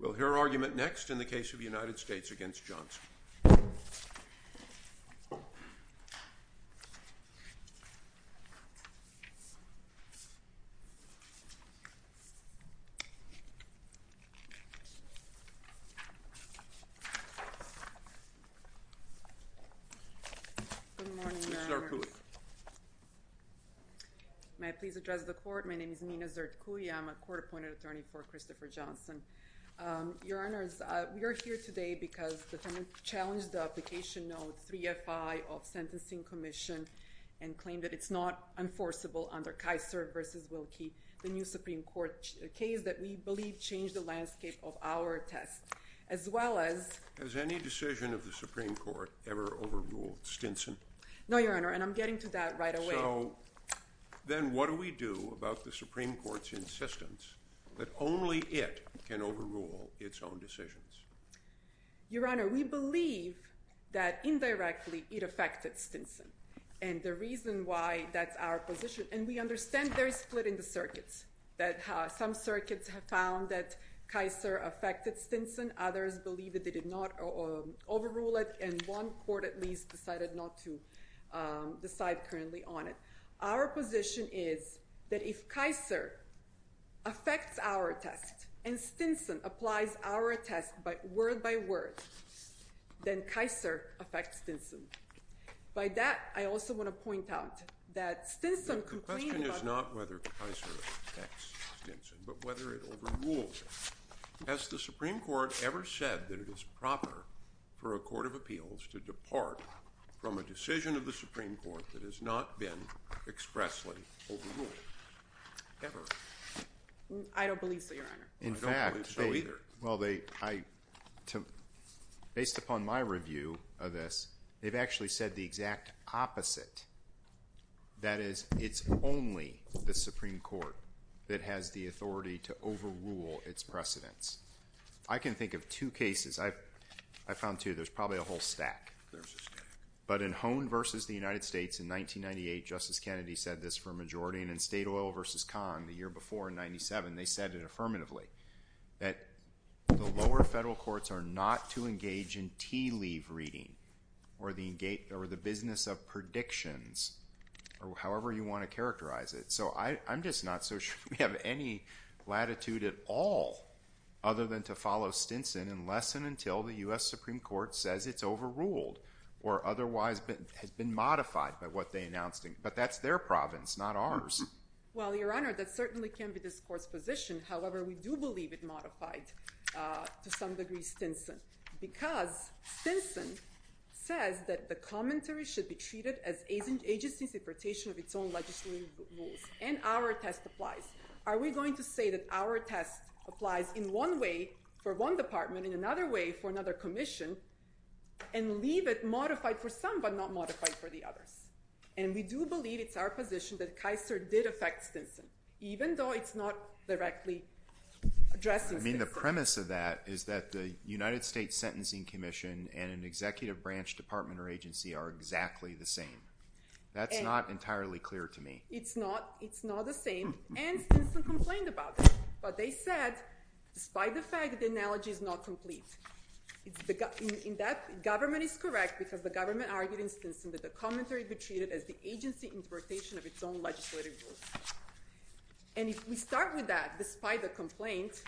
We'll hear argument next in the case of the United States v. Johnson. Good morning, Your Honor. Ms. Zerkouy. May I please address the court? My name is Nina Zerkouy. I'm a court-appointed attorney for Christopher Johnson. Your Honors, we are here today because the tenant challenged the application note 3FI of Sentencing Commission and claimed that it's not enforceable under Kaiser v. Wilkie, the new Supreme Court case that we believe changed the landscape of our test, as well as... Has any decision of the Supreme Court ever overruled Stinson? No, Your Honor, and I'm getting to that right away. So then what do we do about the Supreme Court's insistence that only it can overrule its own decisions? Your Honor, we believe that indirectly it affected Stinson, and the reason why that's our position... And we understand there is split in the circuits, that some circuits have found that Kaiser affected Stinson, others believe that they did not overrule it, and one court at least decided not to decide currently on it. Our position is that if Kaiser affects our test and Stinson applies our test word by word, then Kaiser affects Stinson. By that, I also want to point out that Stinson... The question is not whether Kaiser affects Stinson, but whether it overrules it. Has the Supreme Court ever said that it is proper for a court of appeals to depart from a decision of the Supreme Court that has not been expressly overruled, ever? I don't believe so, Your Honor. I don't believe so either. Well, based upon my review of this, they've actually said the exact opposite. That is, it's only the Supreme Court that has the authority to overrule its precedents. I can think of two cases. I found, too, there's probably a whole stack. There's a stack. But in Hone v. The United States in 1998, Justice Kennedy said this for a majority, and in State Oil v. Kong the year before in 1997, they said it affirmatively, that the lower federal courts are not to engage in tea-leave reading or the business of predictions or however you want to characterize it. So I'm just not so sure we have any latitude at all other than to follow Stinson unless and until the U.S. Supreme Court says it's overruled or otherwise has been modified by what they announced. But that's their province, not ours. Well, Your Honor, that certainly can't be this court's position. However, we do believe it modified to some degree Stinson because Stinson says that the commentary should be treated as agency's interpretation of its own legislative rules, and our test applies. Are we going to say that our test applies in one way for one department, in another way for another commission, and leave it modified for some but not modified for the others? And we do believe it's our position that Kaiser did affect Stinson, even though it's not directly addressing Stinson. I mean, the premise of that is that the United States Sentencing Commission and an executive branch department or agency are exactly the same. That's not entirely clear to me. It's not the same, and Stinson complained about it. But they said, despite the fact, the analogy is not complete. In that, government is correct because the government argued in Stinson that the commentary be treated as the agency interpretation of its own legislative rules. And if we start with that, despite the complaint,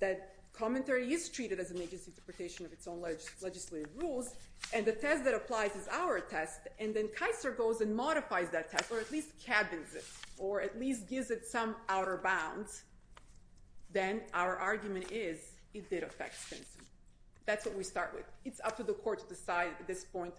that commentary is treated as an agency interpretation of its own legislative rules, and the test that applies is our test, and then Kaiser goes and modifies that test, or at least cabins it, or at least gives it some outer bounds, then our argument is it did affect Stinson. That's what we start with. It's up to the court to decide at this point.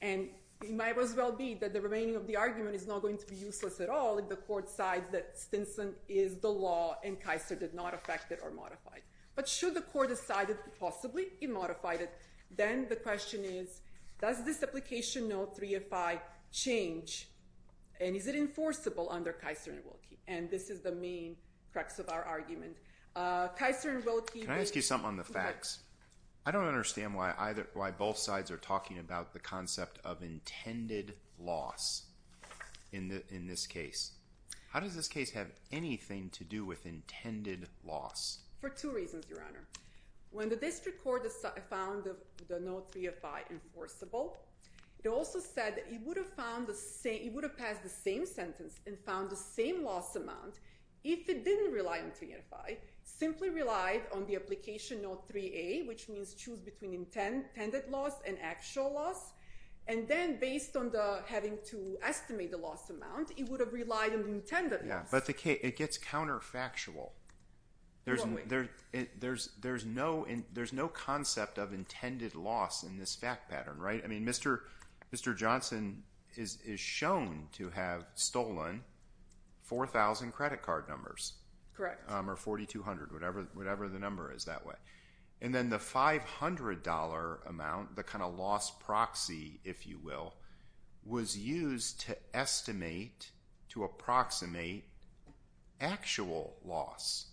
And it might as well be that the remaining of the argument is not going to be useless at all if the court decides that Stinson is the law and Kaiser did not affect it or modify it. But should the court decide that possibly it modified it, then the question is, does this application note 3 of 5 change, and is it enforceable under Kaiser and Wilkie? And this is the main crux of our argument. Kaiser and Wilkie— Can I ask you something on the facts? I don't understand why both sides are talking about the concept of intended loss in this case. How does this case have anything to do with intended loss? For two reasons, Your Honor. When the district court found the note 3 of 5 enforceable, it also said it would have passed the same sentence and found the same loss amount if it didn't rely on 3 of 5, simply relied on the application note 3A, which means choose between intended loss and actual loss, and then based on having to estimate the loss amount, it would have relied on the intended loss. But it gets counterfactual. There's no concept of intended loss in this fact pattern, right? I mean, Mr. Johnson is shown to have stolen 4,000 credit card numbers or 4,200, whatever the number is that way. And then the $500 amount, the kind of loss proxy, if you will, was used to estimate, to approximate actual loss.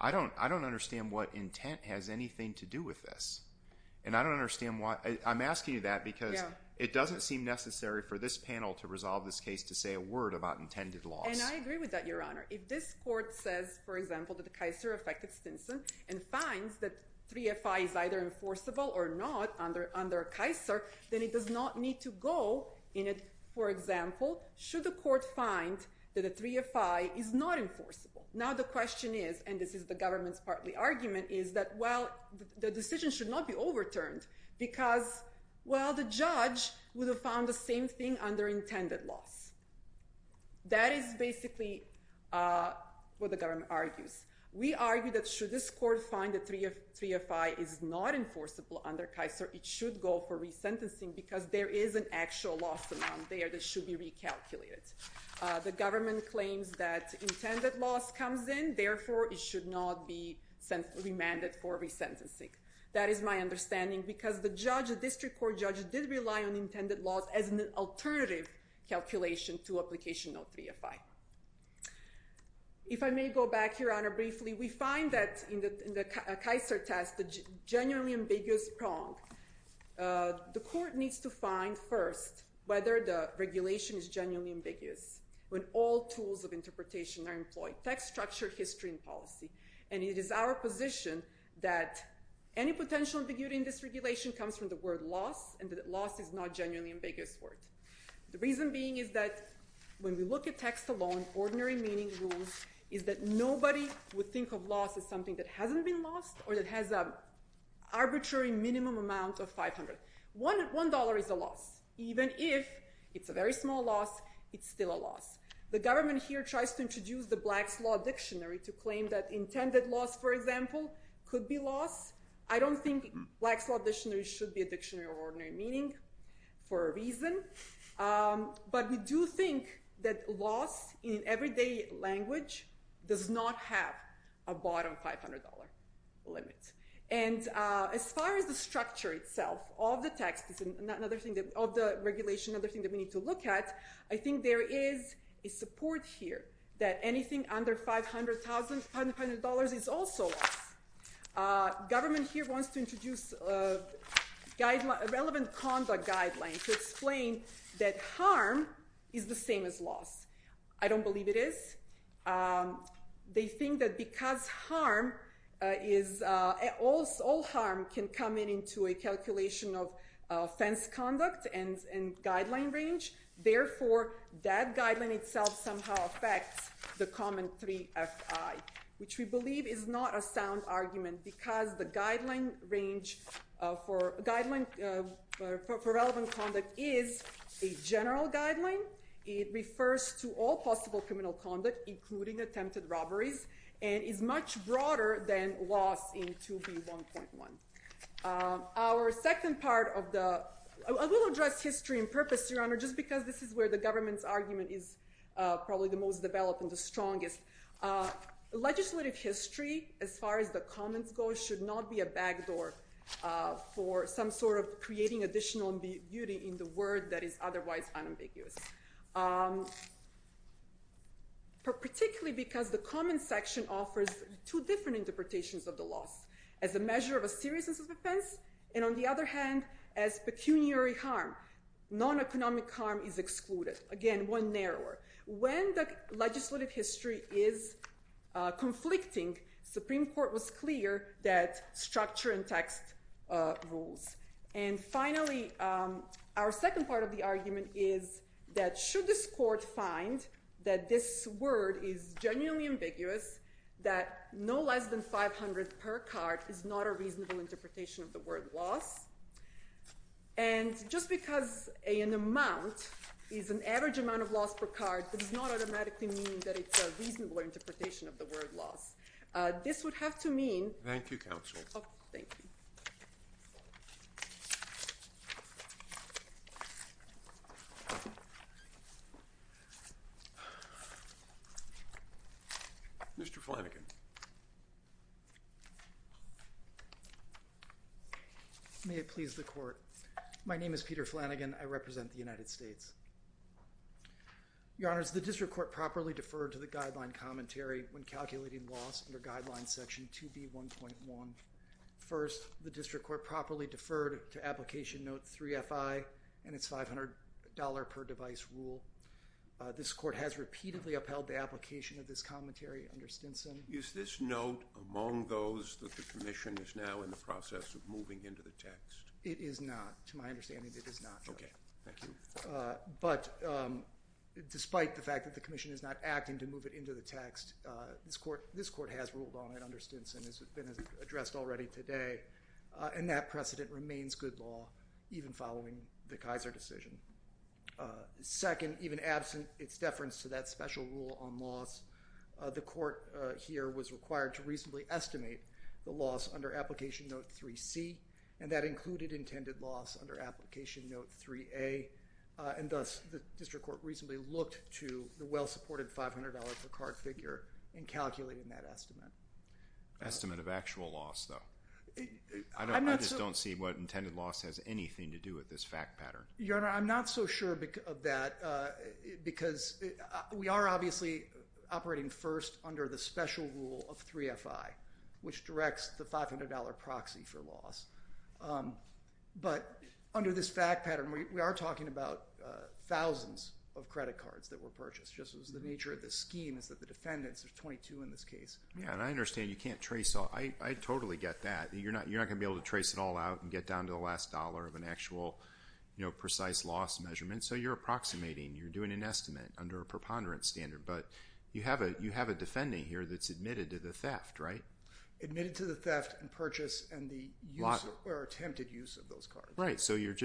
I don't understand what intent has anything to do with this, and I don't understand why—I'm asking you that because it doesn't seem necessary for this panel to resolve this case to say a word about intended loss. And I agree with that, Your Honor. If this court says, for example, that the Kaiser affected Stinson and finds that 3 of 5 is either enforceable or not under Kaiser, then it does not need to go in it, for example, should the court find that the 3 of 5 is not enforceable. Now the question is—and this is the government's partly argument—is that, well, the decision should not be overturned because, well, the judge would have found the same thing under intended loss. That is basically what the government argues. We argue that should this court find that 3 of 5 is not enforceable under Kaiser, it should go for resentencing because there is an actual loss amount there that should be recalculated. The government claims that intended loss comes in, therefore it should not be remanded for resentencing. That is my understanding because the judge, the district court judge, did rely on intended loss as an alternative calculation to application no. 3 of 5. If I may go back, Your Honor, briefly, we find that in the Kaiser test, the genuinely ambiguous prong. The court needs to find first whether the regulation is genuinely ambiguous when all tools of interpretation are employed—text, structure, history, and policy. It is our position that any potential ambiguity in this regulation comes from the word loss and that loss is not a genuinely ambiguous word. The reason being is that when we look at text alone, ordinary meaning rules is that nobody would think of loss as something that hasn't been lost or that has an arbitrary minimum amount of $500. One dollar is a loss. Even if it's a very small loss, it's still a loss. The government here tries to introduce the Black's Law Dictionary to claim that intended loss, for example, could be loss. I don't think Black's Law Dictionary should be a dictionary of ordinary meaning for a reason, but we do think that loss in everyday language does not have a bottom $500 limit. As far as the structure itself of the regulation, another thing that we need to look at, I think there is a support here that anything under $500 is also loss. Government here wants to introduce a relevant conduct guideline to explain that harm is the same as loss. I don't believe it is. They think that because all harm can come into a calculation of offense conduct and guideline range, therefore that guideline itself somehow affects the common 3FI, which we believe is not a sound argument because the guideline for relevant conduct is a general guideline. It refers to all possible criminal conduct, including attempted robberies, and is much broader than loss in 2B1.1. I will address history and purpose, Your Honor, just because this is where the government's argument is probably the most developed and the strongest. Legislative history, as far as the comments go, should not be a backdoor for some sort of creating additional beauty in the word that is otherwise unambiguous. Particularly because the comments section offers two different interpretations of the loss. As a measure of a seriousness of offense, and on the other hand, as pecuniary harm. Non-economic harm is excluded. Again, one narrower. When the legislative history is conflicting, Supreme Court was clear that structure and text rules. And finally, our second part of the argument is that should this court find that this word is genuinely ambiguous, that no less than 500 per card is not a reasonable interpretation of the word loss, and just because an amount is an average amount of loss per card does not automatically mean that it's a reasonable interpretation of the word loss. This would have to mean. Thank you, Counsel. Thank you. Mr. Flanagan. Thank you. May it please the court. My name is Peter Flanagan. I represent the United States. Your Honor, the district court properly deferred to the guideline commentary when calculating loss under guideline section 2B1.1. First, the district court properly deferred to application note 3FI and its $500 per device rule. This court has repeatedly upheld the application of this commentary under Stinson. Is this note among those that the commission is now in the process of moving into the text? It is not. To my understanding, it is not. Okay. Thank you. But despite the fact that the commission is not acting to move it into the text, this court has ruled on it under Stinson, as has been addressed already today, and that precedent remains good law even following the Kaiser decision. Second, even absent its deference to that special rule on loss, the court here was required to reasonably estimate the loss under application note 3C, and that included intended loss under application note 3A, and thus the district court reasonably looked to the well-supported $500 per card figure and calculated that estimate. Estimate of actual loss, though. I just don't see what intended loss has anything to do with this fact pattern. Your Honor, I'm not so sure of that because we are obviously operating first under the special rule of 3FI, which directs the $500 proxy for loss. But under this fact pattern, we are talking about thousands of credit cards that were purchased, just as the nature of this scheme is that the defendants, there's 22 in this case. Yeah, and I understand you can't trace all. I totally get that. You're not going to be able to trace it all out and get down to the last dollar of an actual precise loss measurement, so you're approximating. You're doing an estimate under a preponderance standard, but you have a defending here that's admitted to the theft, right? Admitted to the theft and purchase and the use or attempted use of those cards. Right, so you're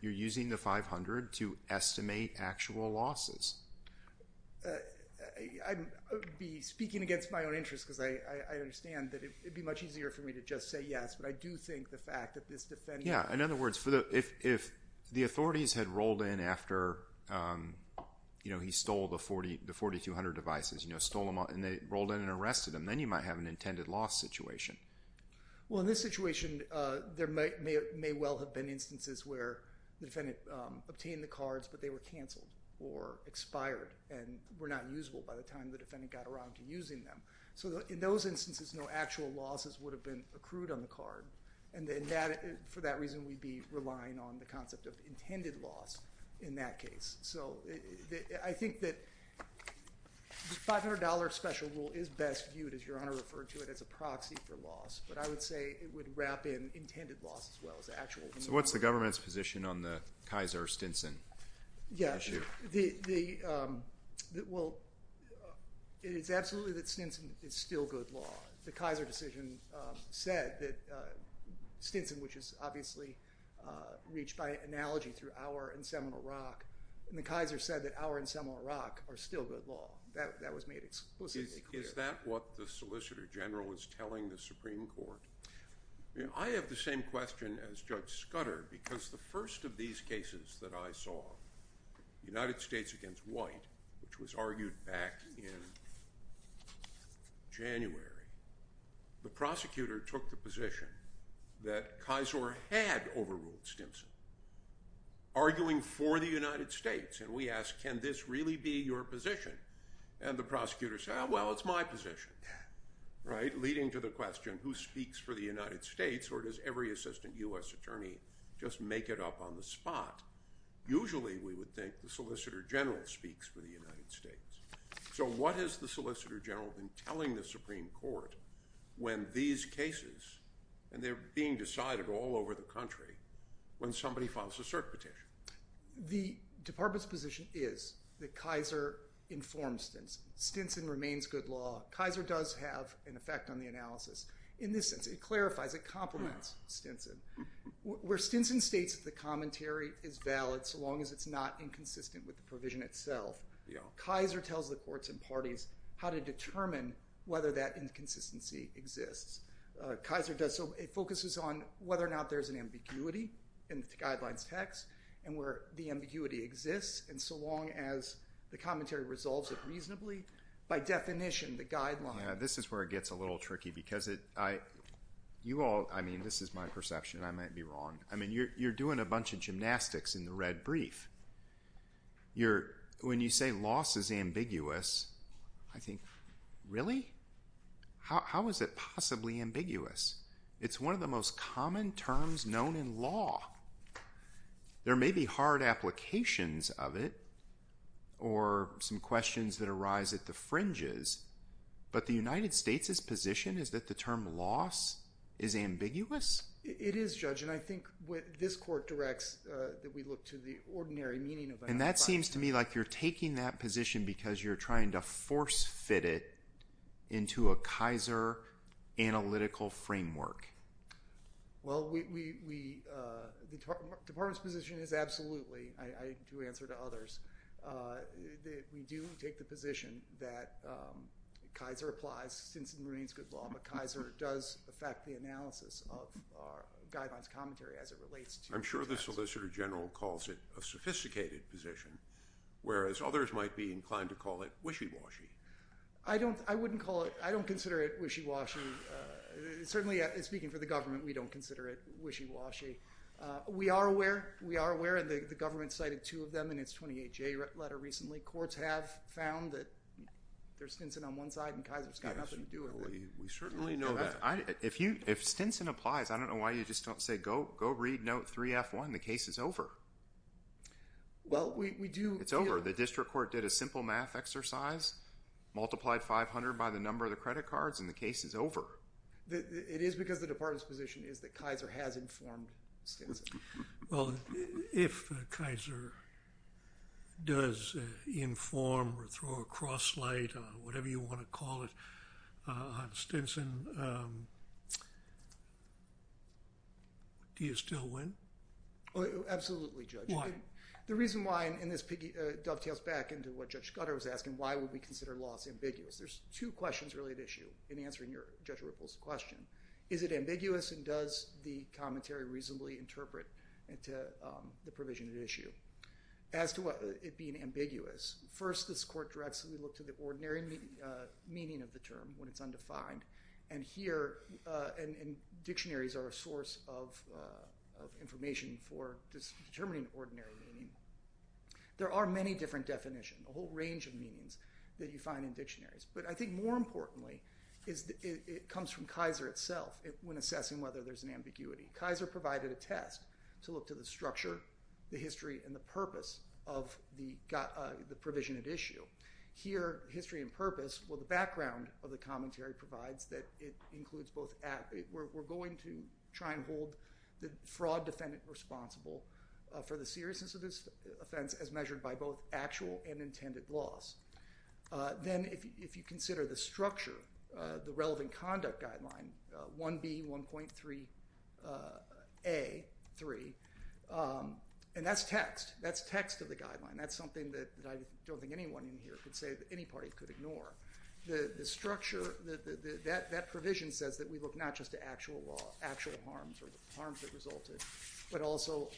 using the $500 to estimate actual losses. I would be speaking against my own interest because I understand that it would be much easier for me to just say yes, but I do think the fact that this defendant... Yeah, in other words, if the authorities had rolled in after he stole the 4200 devices, and they rolled in and arrested him, then you might have an intended loss situation. Well, in this situation, there may well have been instances where the defendant obtained the cards, but they were canceled or expired and were not usable by the time the defendant got around to using them. So in those instances, no actual losses would have been accrued on the card, and for that reason, we'd be relying on the concept of intended loss in that case. So I think that the $500 special rule is best viewed, as Your Honor referred to it, as a proxy for loss, but I would say it would wrap in intended loss as well as actual loss. So what's the government's position on the Kaiser-Stinson issue? Yeah, well, it is absolutely that Stinson is still good law. The Kaiser decision said that Stinson, which is obviously reached by analogy through Auer and Seminole Rock, and the Kaiser said that Auer and Seminole Rock are still good law. That was made explicitly clear. Is that what the Solicitor General is telling the Supreme Court? I have the same question as Judge Scudder, because the first of these cases that I saw, United States against White, which was argued back in January, the prosecutor took the position that Kaiser had overruled Stinson, arguing for the United States, and we asked, can this really be your position? And the prosecutor said, well, it's my position. Right? Leading to the question, who speaks for the United States, or does every assistant U.S. attorney just make it up on the spot? Usually we would think the Solicitor General speaks for the United States. So what has the Solicitor General been telling the Supreme Court when these cases, and they're being decided all over the country, when somebody files a cert petition? The department's position is that Kaiser informs Stinson. Stinson remains good law. Kaiser does have an effect on the analysis in this sense. It clarifies. It complements Stinson. Where Stinson states that the commentary is valid so long as it's not inconsistent with the provision itself, Kaiser tells the courts and parties how to determine whether that inconsistency exists. Kaiser does so. It focuses on whether or not there's an ambiguity in the guidelines text and where the ambiguity exists, and so long as the commentary resolves it reasonably, by definition, the guidelines. Yeah, this is where it gets a little tricky because you all, I mean, this is my perception. I might be wrong. I mean, you're doing a bunch of gymnastics in the red brief. When you say loss is ambiguous, I think, really? How is it possibly ambiguous? It's one of the most common terms known in law. There may be hard applications of it or some questions that arise at the fringes, but the United States' position is that the term loss is ambiguous? It is, Judge, and I think what this court directs that we look to the ordinary meaning of that. And that seems to me like you're taking that position because you're trying to force fit it into a Kaiser analytical framework. Well, the Department's position is absolutely, I do answer to others, that we do take the position that Kaiser applies since it remains good law, but Kaiser does affect the analysis of our guidelines commentary as it relates to Kaiser. I'm sure the Solicitor General calls it a sophisticated position, whereas others might be inclined to call it wishy-washy. I don't consider it wishy-washy. Certainly, speaking for the government, we don't consider it wishy-washy. We are aware, and the government cited two of them in its 28-J letter recently. Courts have found that there's Stinson on one side and Kaiser's got nothing to do with it. We certainly know that. If Stinson applies, I don't know why you just don't say, go read note 3F1, the case is over. Well, we do. It's over. The district court did a simple math exercise, multiplied 500 by the number of the credit cards, and the case is over. It is because the Department's position is that Kaiser has informed Stinson. Well, if Kaiser does inform or throw a cross light on whatever you want to call it on Stinson, do you still win? Absolutely, Judge. Why? The reason why, and this dovetails back into what Judge Scudder was asking, why would we consider loss ambiguous? There's two questions really at issue in answering Judge Ripple's question. Is it ambiguous and does the commentary reasonably interpret the provision at issue? As to what it being ambiguous, first this court directly looked at the ordinary meaning of the term when it's undefined, and here dictionaries are a source of information for determining ordinary meaning. There are many different definitions, a whole range of meanings that you find in dictionaries, but I think more importantly it comes from Kaiser itself when assessing whether there's an ambiguity. Kaiser provided a test to look to the structure, the history, and the purpose of the provision at issue. Here, history and purpose, well, the background of the commentary provides that it includes both. We're going to try and hold the fraud defendant responsible for the seriousness of this offense as measured by both actual and intended loss. Then if you consider the structure, the relevant conduct guideline, 1B.1.3A.3, and that's text. That's text of the guideline. That's something that I don't think anyone in here could say that any party could ignore. The structure, that provision says that we look not just to actual law, actual harms or the harms that resulted, but also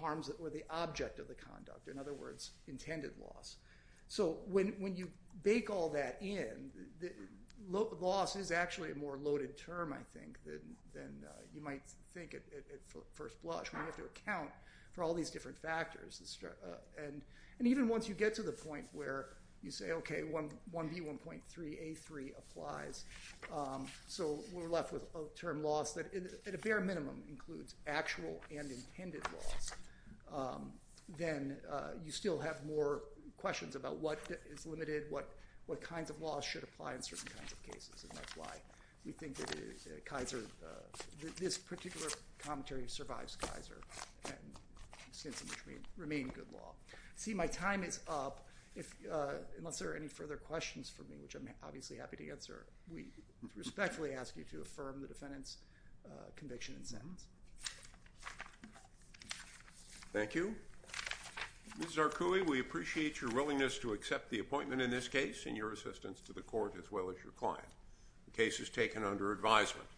harms that were the object of the conduct, in other words, intended loss. So when you bake all that in, loss is actually a more loaded term, I think, than you might think at first blush. We have to account for all these different factors. And even once you get to the point where you say, okay, 1B.1.3A.3 applies, so we're left with a term loss that at a bare minimum includes actual and intended loss, then you still have more questions about what is limited, what kinds of loss should apply in certain kinds of cases, and that's why we think that this particular commentary survives Kaiser and remains good law. See, my time is up. Unless there are any further questions for me, which I'm obviously happy to answer, we respectfully ask you to affirm the defendant's conviction and sentence. Thank you. Ms. Zarkoui, we appreciate your willingness to accept the appointment in this case and your assistance to the court as well as your client. The case is taken under advisement.